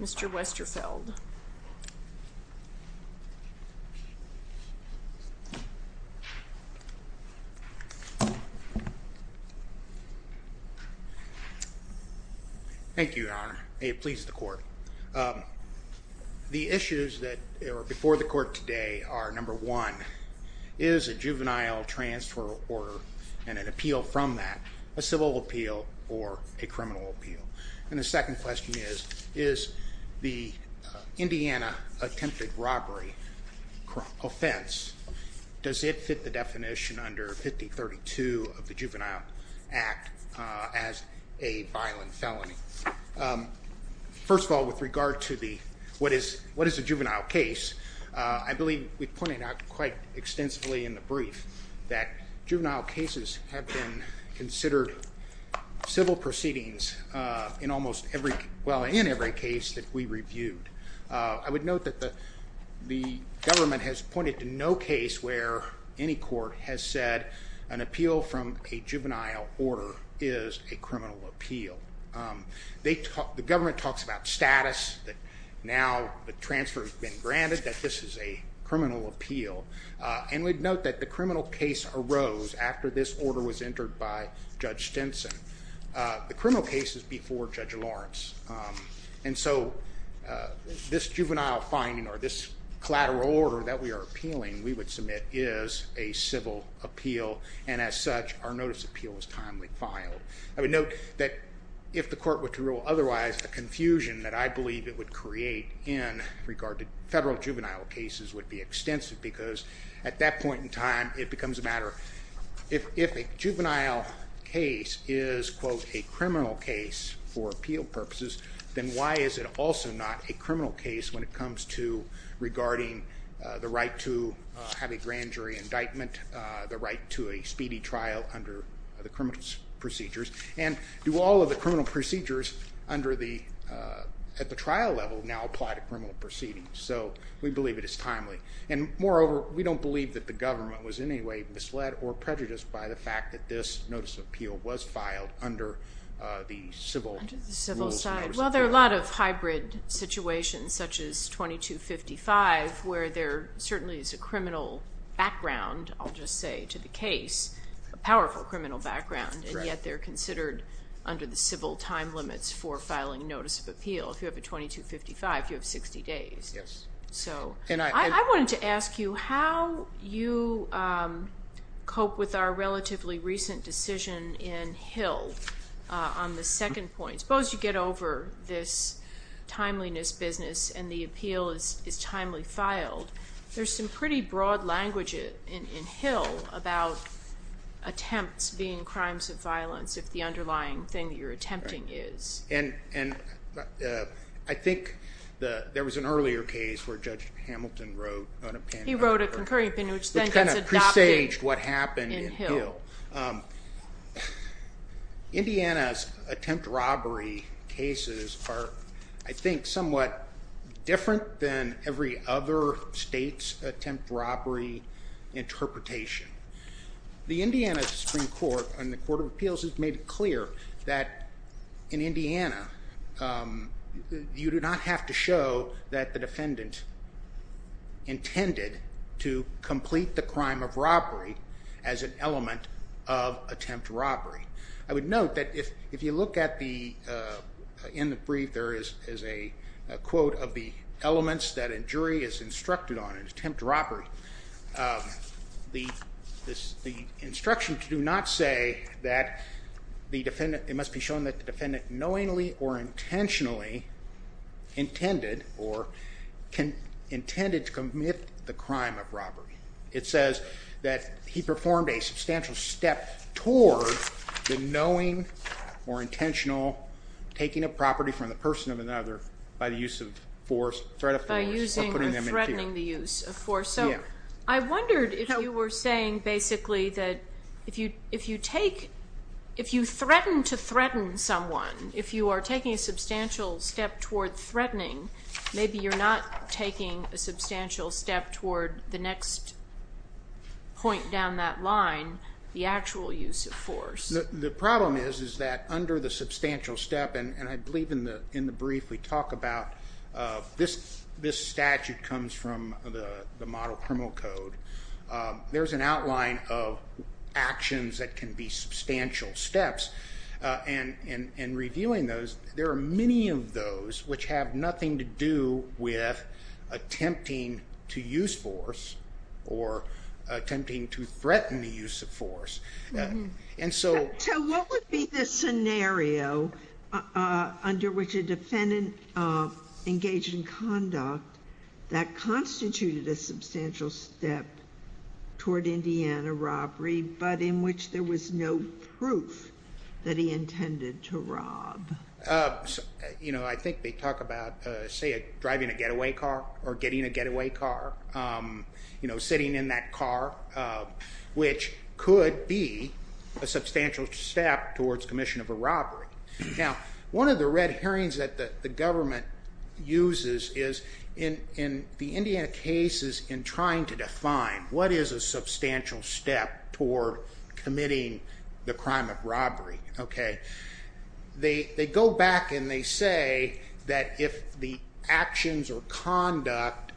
Mr. Westerfeld. Thank you, Your Honor, may it please the court. The issues that are before the court today are, number one, is a juvenile transfer order and an appeal from that a civil appeal or a criminal appeal? And the second question is, is the Indiana attempted robbery offense, does it fit the definition under 5032 of the Juvenile Act as a violent felony? First of all, with regard to what is a juvenile case, I believe we pointed out quite extensively in the brief that juvenile cases have been considered civil proceedings in almost every case, well, in every case that we reviewed. I would note that the government has pointed to no case where any court has said an appeal from a juvenile order is a criminal appeal. The government talks about status, that now the transfer has been granted, that this is a criminal appeal, and we'd note that the criminal case arose after this order was entered by Judge Stinson. The criminal case is before Judge Lawrence. And so this juvenile finding, or this collateral order that we are appealing, we would submit is a civil appeal, and as such, our notice appeal is timely filed. I would note that if the court were to rule otherwise, the confusion that I believe it would create in regard to federal juvenile cases would be extensive, because at that point in time, it becomes a matter, if a juvenile case is, quote, a criminal case for appeal purposes, then why is it also not a criminal case when it comes to regarding the right to have a grand jury indictment, the right to a speedy trial under the criminal procedures, and do all of the criminal procedures at the trial level now apply to criminal proceedings? So we believe it is timely, and moreover, we don't believe that the government was in any way misled or prejudiced by the fact that this notice of appeal was filed under the civil rules. Under the civil side. Well, there are a lot of hybrid situations, such as 2255, where there certainly is a criminal background, and yet they're considered under the civil time limits for filing a notice of appeal. If you have a 2255, you have 60 days. So I wanted to ask you how you cope with our relatively recent decision in Hill on the second point. Suppose you get over this timeliness business, and the appeal is timely filed. There's some pretty broad language in Hill about attempts being crimes of violence, if the underlying thing that you're attempting is. And I think there was an earlier case where Judge Hamilton wrote on a pen. He wrote a concurring opinion, which then gets adopted in Hill. Indiana's attempt robbery cases are, I think, somewhat different than every other state's attempt robbery interpretation. The Indiana Supreme Court and the Court of Appeals has made it clear that in Indiana, you do not have to show that the defendant intended to complete the crime of robbery as an element of attempt robbery. I would note that if you look at the, in the brief there is a quote of the elements that a jury is instructed on in attempt robbery, the instructions do not say that it must be shown that the defendant knowingly or intentionally intended to commit the crime of robbery. It says that he performed a substantial step toward the knowing or intentional taking of property from the person of another by the use of force, threat of force, or putting them in jail. By using or threatening the use of force. Yeah. So I wondered if you were saying basically that if you take, if you threaten to threaten someone, if you are taking a substantial step toward threatening, maybe you're not taking a substantial step toward the next point down that line, the actual use of force. The problem is, is that under the substantial step, and I believe in the brief we talk about this, this statute comes from the model criminal code. There's an outline of actions that can be substantial steps and reviewing those, there are many of those which have nothing to do with attempting to use force or attempting to threaten the use of force. And so. So what would be the scenario under which a defendant engaged in conduct that constituted a substantial step toward Indiana robbery, but in which there was no proof that he intended to rob? You know, I think they talk about, say, driving a getaway car or getting a getaway car. You know, sitting in that car, which could be a substantial step towards commission of a robbery. Now, one of the red herrings that the government uses is in the Indiana cases in trying to define what is a substantial step toward committing the crime of robbery, okay? They go back and they say that if the actions or conduct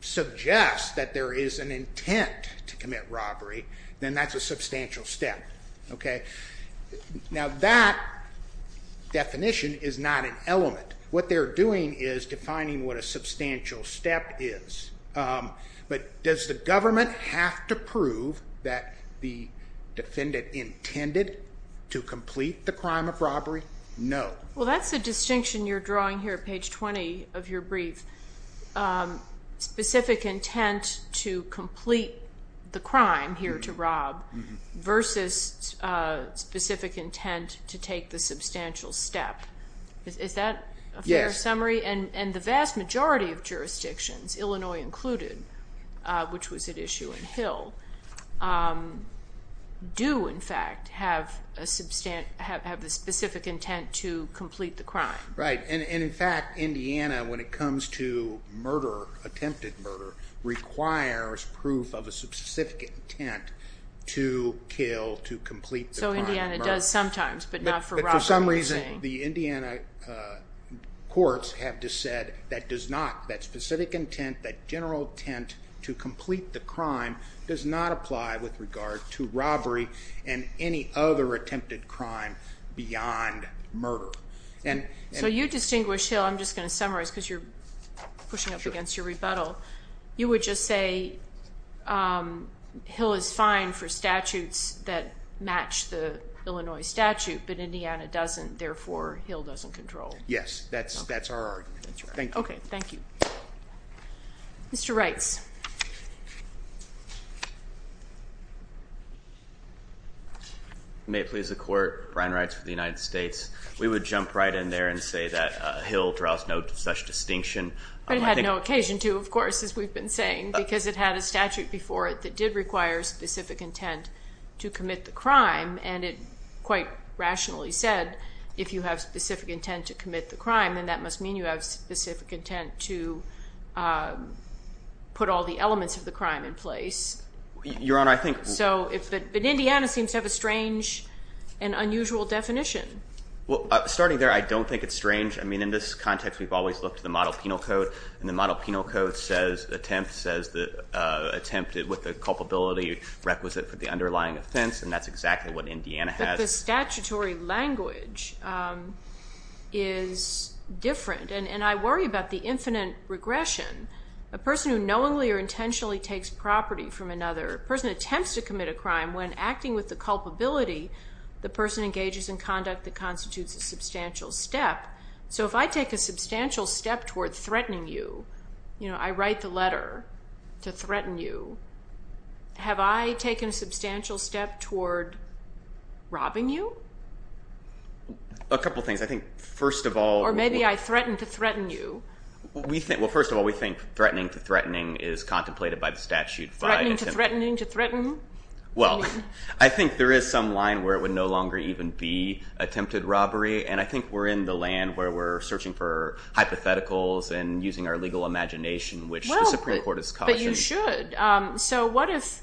suggest that there is an intent to commit robbery, then that's a substantial step, okay? Now that definition is not an element. What they're doing is defining what a substantial step is. But does the government have to prove that the defendant intended to complete the crime of robbery? No. Well, that's the distinction you're drawing here at page 20 of your brief. Specific intent to complete the crime here to rob versus specific intent to take the substantial step. Is that a fair summary? And the vast majority of jurisdictions, Illinois included, which was at issue in Hill, do in intent to complete the crime. Right. And in fact, Indiana, when it comes to attempted murder, requires proof of a specific intent to kill, to complete the crime of murder. So Indiana does sometimes, but not for robbery, you're saying? But for some reason, the Indiana courts have just said that does not, that specific intent, that general intent to complete the crime, does not apply with regard to robbery and any other attempted crime beyond murder. So you distinguish Hill, I'm just going to summarize because you're pushing up against your rebuttal. You would just say Hill is fine for statutes that match the Illinois statute, but Indiana doesn't, therefore, Hill doesn't control. Yes. That's our argument. Thank you. Okay. Thank you. Mr. Reitz. May it please the court, Brian Reitz for the United States. We would jump right in there and say that Hill draws no such distinction. But it had no occasion to, of course, as we've been saying, because it had a statute before it that did require specific intent to commit the crime. And it quite rationally said, if you have specific intent to commit the crime, then that must mean you have specific intent to put all the elements of the crime in place. Your Honor, I think... So, but Indiana seems to have a strange and unusual definition. Well, starting there, I don't think it's strange. I mean, in this context, we've always looked at the model penal code, and the model penal code says attempt, says the attempt with the culpability requisite for the underlying offense, and that's exactly what Indiana has. But the statutory language is different, and I worry about the infinite regression. A person who knowingly or intentionally takes property from another, a person who attempts to commit a crime, when acting with the culpability, the person engages in conduct that constitutes a substantial step. So if I take a substantial step toward threatening you, you know, I write the letter to threaten you, have I taken a substantial step toward robbing you? A couple things. I think, first of all... Or maybe I threatened to threaten you. Well, first of all, we think threatening to threatening is contemplated by the statute by... Threatening to threatening to threaten? I mean... Well, I think there is some line where it would no longer even be attempted robbery, and I think we're in the land where we're searching for hypotheticals and using our legal imagination, which the Supreme Court has cautioned. You should. So what if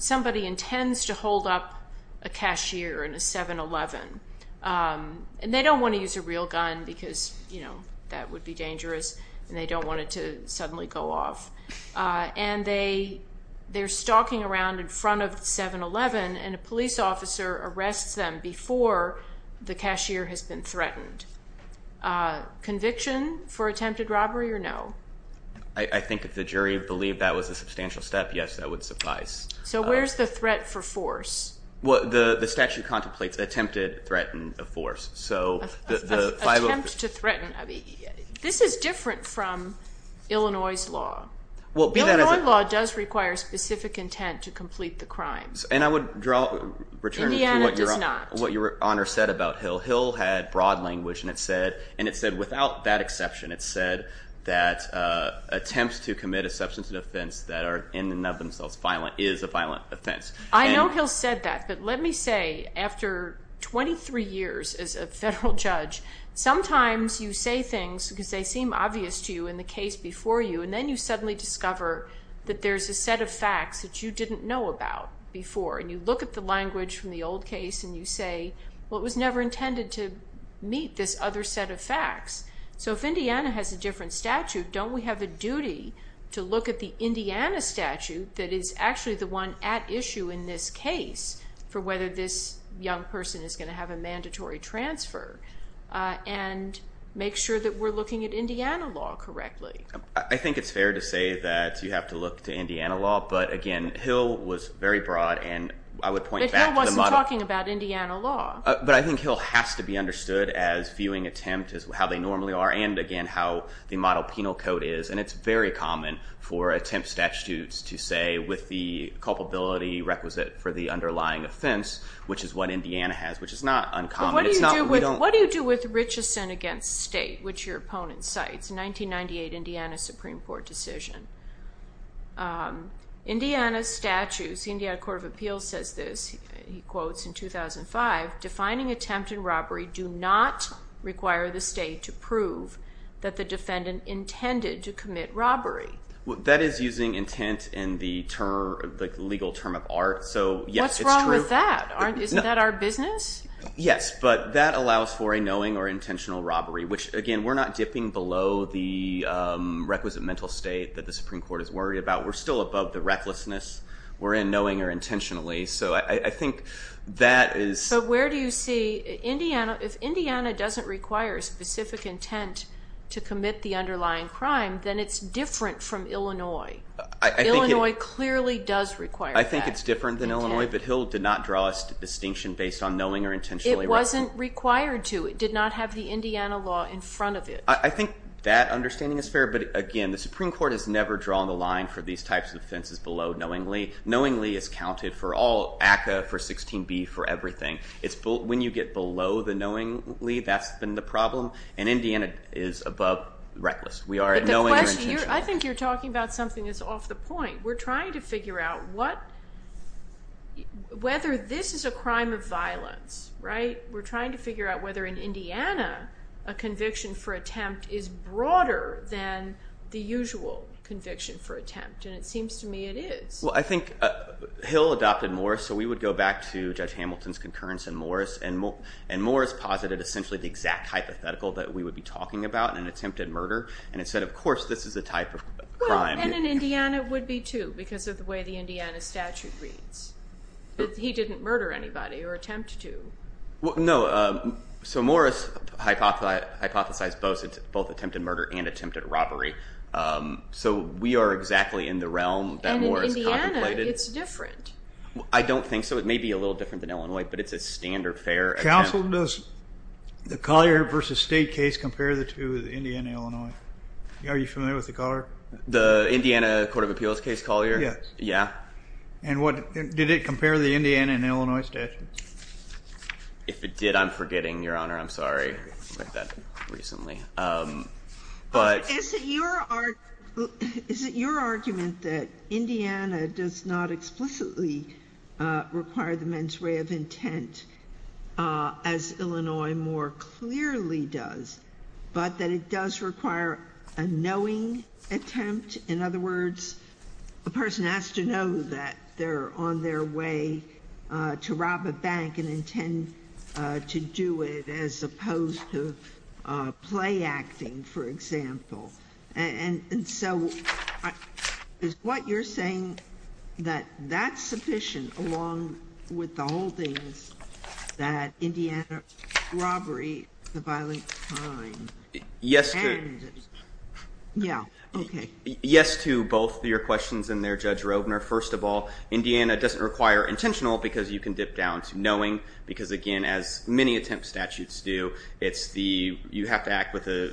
somebody intends to hold up a cashier in a 7-Eleven, and they don't want to use a real gun because, you know, that would be dangerous, and they don't want it to suddenly go off, and they're stalking around in front of the 7-Eleven, and a police officer arrests them before the cashier has been threatened. Conviction for attempted robbery or no? I think if the jury believed that was a substantial step, yes, that would suffice. So where's the threat for force? Well, the statute contemplates attempted threaten of force. So the... Attempt to threaten. This is different from Illinois' law. Well, be that as it... Illinois' law does require specific intent to complete the crimes. And I would draw... Indiana does not. Returning to what Your Honor said about Hill. Hill had broad language, and it said... Attempts to commit a substance offense that are in and of themselves is a violent offense. I know Hill said that, but let me say, after 23 years as a federal judge, sometimes you say things because they seem obvious to you in the case before you, and then you suddenly discover that there's a set of facts that you didn't know about before. And you look at the language from the old case, and you say, well, it was never intended to meet this other set of facts. So if Indiana has a different statute, don't we have a duty to look at the Indiana statute that is actually the one at issue in this case for whether this young person is going to have a mandatory transfer, and make sure that we're looking at Indiana law correctly? I think it's fair to say that you have to look to Indiana law, but again, Hill was very broad and I would point back to the model... But Hill wasn't talking about Indiana law. But I think Hill has to be understood as viewing attempt as how they normally are, and again, how the model penal code is. And it's very common for attempt statutes to say, with the culpability requisite for the underlying offense, which is what Indiana has, which is not uncommon. What do you do with Richeson against State, which your opponent cites, 1998 Indiana Supreme Court decision? Indiana statutes, the Indiana Court of Appeals says this, he quotes in 2005, defining attempt and robbery do not require the State to prove that the defendant intended to commit robbery. That is using intent in the legal term of art. So yes, it's true. What's wrong with that? Isn't that our business? Yes, but that allows for a knowing or intentional robbery, which again, we're not dipping below the requisite mental state that the Supreme Court is worried about. We're still above the recklessness. We're in knowing or intentionally. So I think that is... So where do you see Indiana... If Indiana doesn't require a specific intent to commit the underlying crime, then it's different from Illinois. Illinois clearly does require that. I think it's different than Illinois, but Hill did not draw a distinction based on knowing or intentionally. It wasn't required to. It did not have the Indiana law in front of it. I think that understanding is fair, but again, the Supreme Court has never drawn the line for these types of offenses below knowingly. Knowingly is counted for all ACCA, for 16B, for everything. When you get below the knowingly, that's been the problem, and Indiana is above reckless. We are at knowing or intentionally. I think you're talking about something that's off the point. We're trying to figure out whether this is a crime of violence, right? The conviction for attempt is broader than the usual conviction for attempt, and it seems to me it is. Well, I think Hill adopted Morris, so we would go back to Judge Hamilton's concurrence in Morris, and Morris posited essentially the exact hypothetical that we would be talking about in an attempted murder, and it said, of course, this is a type of crime. Well, and in Indiana, it would be too, because of the way the Indiana statute reads. He didn't murder anybody or attempt to. No, so Morris hypothesized both attempted murder and attempted robbery, so we are exactly in the realm that Morris contemplated. And in Indiana, it's different. I don't think so. It may be a little different than Illinois, but it's a standard fair attempt. Counsel, does the Collier v. State case compare the two of the Indiana and Illinois? Are you familiar with the Collier? The Indiana Court of Appeals case, Collier? Yes. Yeah. And did it compare the Indiana and Illinois statutes? If it did, I'm forgetting, Your Honor. I'm sorry. I read that recently. But — Is it your argument that Indiana does not explicitly require the men's way of intent, as Illinois more clearly does, but that it does require a knowing attempt? In other words, a person has to know that they're on their way to rob a bank and intend to do it, as opposed to play acting, for example. And so, is what you're saying that that's sufficient, along with the holdings that Indiana robbery is a violent crime? Yes. And — Yeah. Okay. Yes to both your questions in there, Judge Rovner. First of all, Indiana doesn't require intentional, because you can dip down to knowing, because again, as many attempt statutes do, it's the — you have to act with a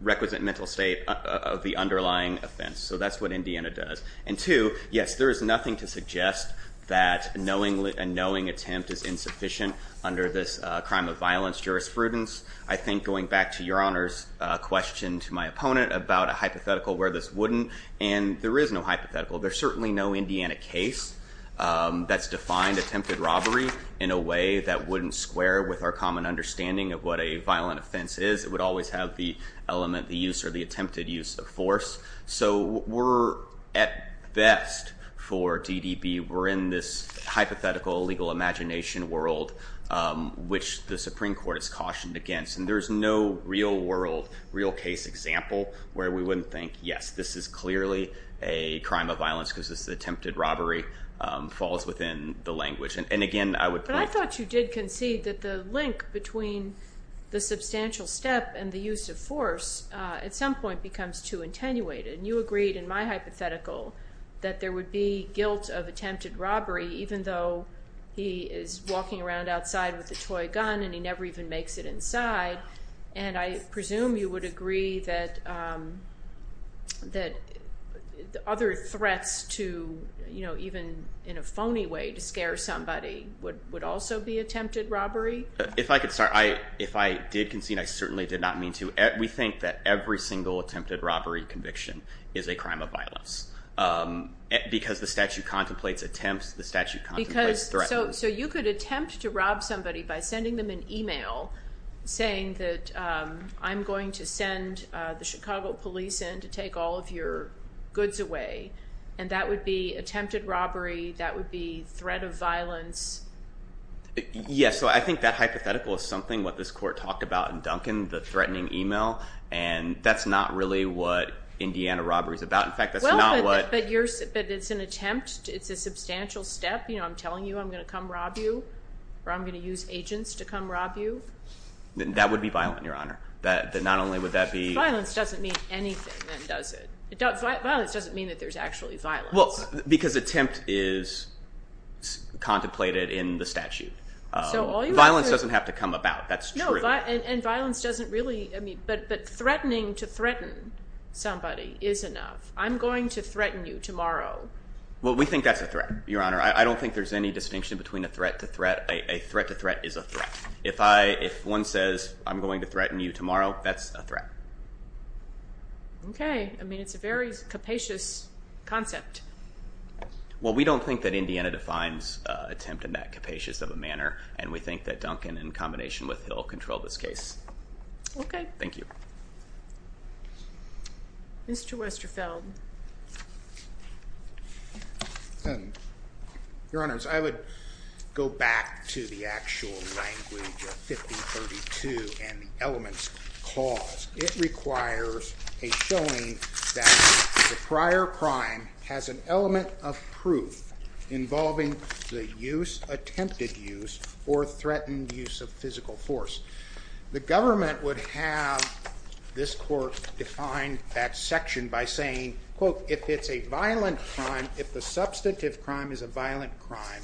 requisite mental state of the underlying offense. So that's what Indiana does. And two, yes, there is nothing to suggest that a knowing attempt is insufficient under this crime of violence jurisprudence. I think, going back to Your Honor's question to my opponent about a hypothetical where this wouldn't, and there is no hypothetical. There's certainly no Indiana case that's defined attempted robbery in a way that wouldn't square with our common understanding of what a violent offense is. It would always have the element, the use, or the attempted use of force. So we're, at best, for DDB, we're in this hypothetical legal imagination world, which the Supreme Court has cautioned against. And there's no real world, real case example where we wouldn't think, yes, this is clearly a crime of violence because this attempted robbery falls within the language. And again, I would point — But I thought you did concede that the link between the substantial step and the use of And you agreed, in my hypothetical, that there would be guilt of attempted robbery, even though he is walking around outside with a toy gun and he never even makes it inside. And I presume you would agree that other threats to, you know, even in a phony way to scare somebody would also be attempted robbery? If I could start. If I did concede, I certainly did not mean to. We think that every single attempted robbery conviction is a crime of violence. Because the statute contemplates attempts, the statute contemplates threatening. So you could attempt to rob somebody by sending them an email saying that I'm going to send the Chicago police in to take all of your goods away, and that would be attempted robbery, that would be threat of violence. Yes. So I think that hypothetical is something what this court talked about in Duncan, the email, and that's not really what Indiana robbery is about. In fact, that's not what- But it's an attempt, it's a substantial step, you know, I'm telling you I'm going to come rob you, or I'm going to use agents to come rob you. That would be violent, Your Honor. Not only would that be- Violence doesn't mean anything, then, does it? Violence doesn't mean that there's actually violence. Well, because attempt is contemplated in the statute. Violence doesn't have to come about, that's true. And violence doesn't really, I mean, but threatening to threaten somebody is enough. I'm going to threaten you tomorrow. Well, we think that's a threat, Your Honor. I don't think there's any distinction between a threat to threat. A threat to threat is a threat. If one says, I'm going to threaten you tomorrow, that's a threat. Okay. I mean, it's a very capacious concept. Well, we don't think that Indiana defines attempt in that capacious of a manner, and we think that Duncan, in combination with Hill, controlled this case. Okay. Thank you. Mr. Westerfeld. Your Honors, I would go back to the actual language of 1532 and the elements clause. It requires a showing that the prior crime has an element of proof involving the use, attempted use, or threatened use of physical force. The government would have this court define that section by saying, quote, if it's a violent crime, if the substantive crime is a violent crime,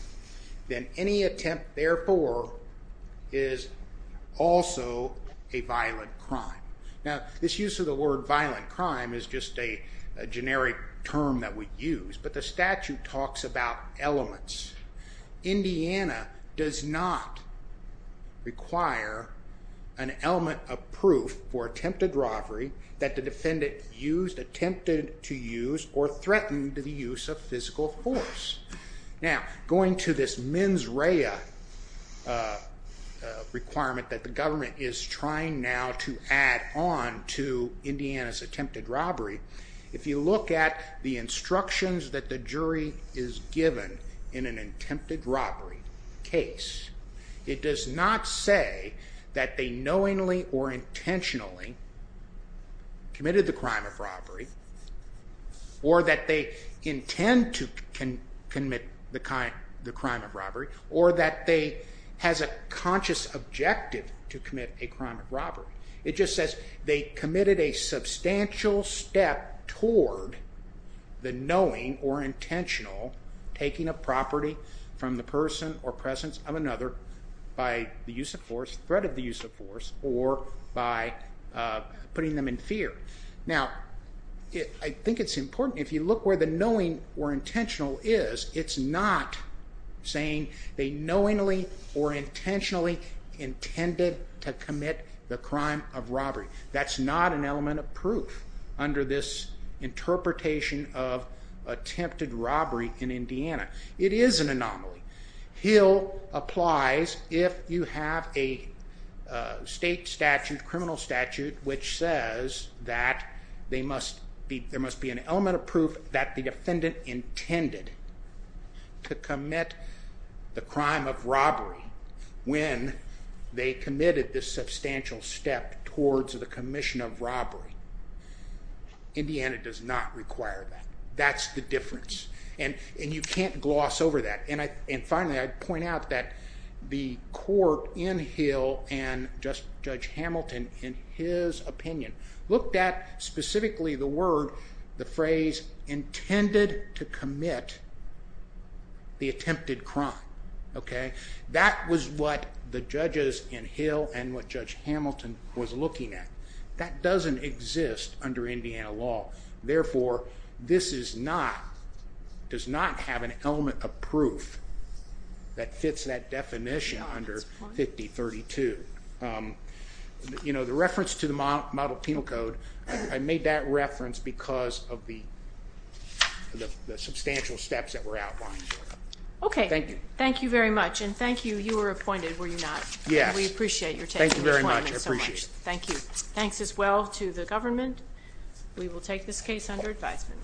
then any attempt, therefore, is also a violent crime. Now, this use of the word violent crime is just a generic term that we use, but the statute talks about elements. Indiana does not require an element of proof for attempted robbery that the defendant used, attempted to use, or threatened the use of physical force. Now, going to this mens rea requirement that the government is trying now to add on to an attempted robbery case, it does not say that they knowingly or intentionally committed the crime of robbery, or that they intend to commit the crime of robbery, or that they has a conscious objective to commit a crime of robbery. It just says they committed a substantial step toward the knowing or intentional taking of property from the person or presence of another by the use of force, threat of the use of force, or by putting them in fear. Now, I think it's important if you look where the knowing or intentional is, it's not saying they knowingly or intentionally intended to commit the crime of robbery. That's not an element of proof under this interpretation of attempted robbery in Indiana. It is an anomaly. Hill applies if you have a state statute, criminal statute, which says that there must be an element of proof that the defendant intended to commit the crime of robbery when they committed this substantial step towards the commission of robbery. Indiana does not require that. That's the difference. You can't gloss over that. Finally, I'd point out that the court in Hill and Judge Hamilton, in his opinion, looked at specifically the word, the phrase, intended to commit the attempted crime. That was what the judges in Hill and what Judge Hamilton was looking at. That doesn't exist under Indiana law. Therefore, this does not have an element of proof that fits that definition under 5032. The reference to the model penal code, I made that reference because of the substantial steps that were outlined. Thank you. Thank you very much. Thank you. You were appointed, were you not? We appreciate your taking the time. Thank you very much. I appreciate it. Thank you. Thanks as well to the government. We will take this case under advisement.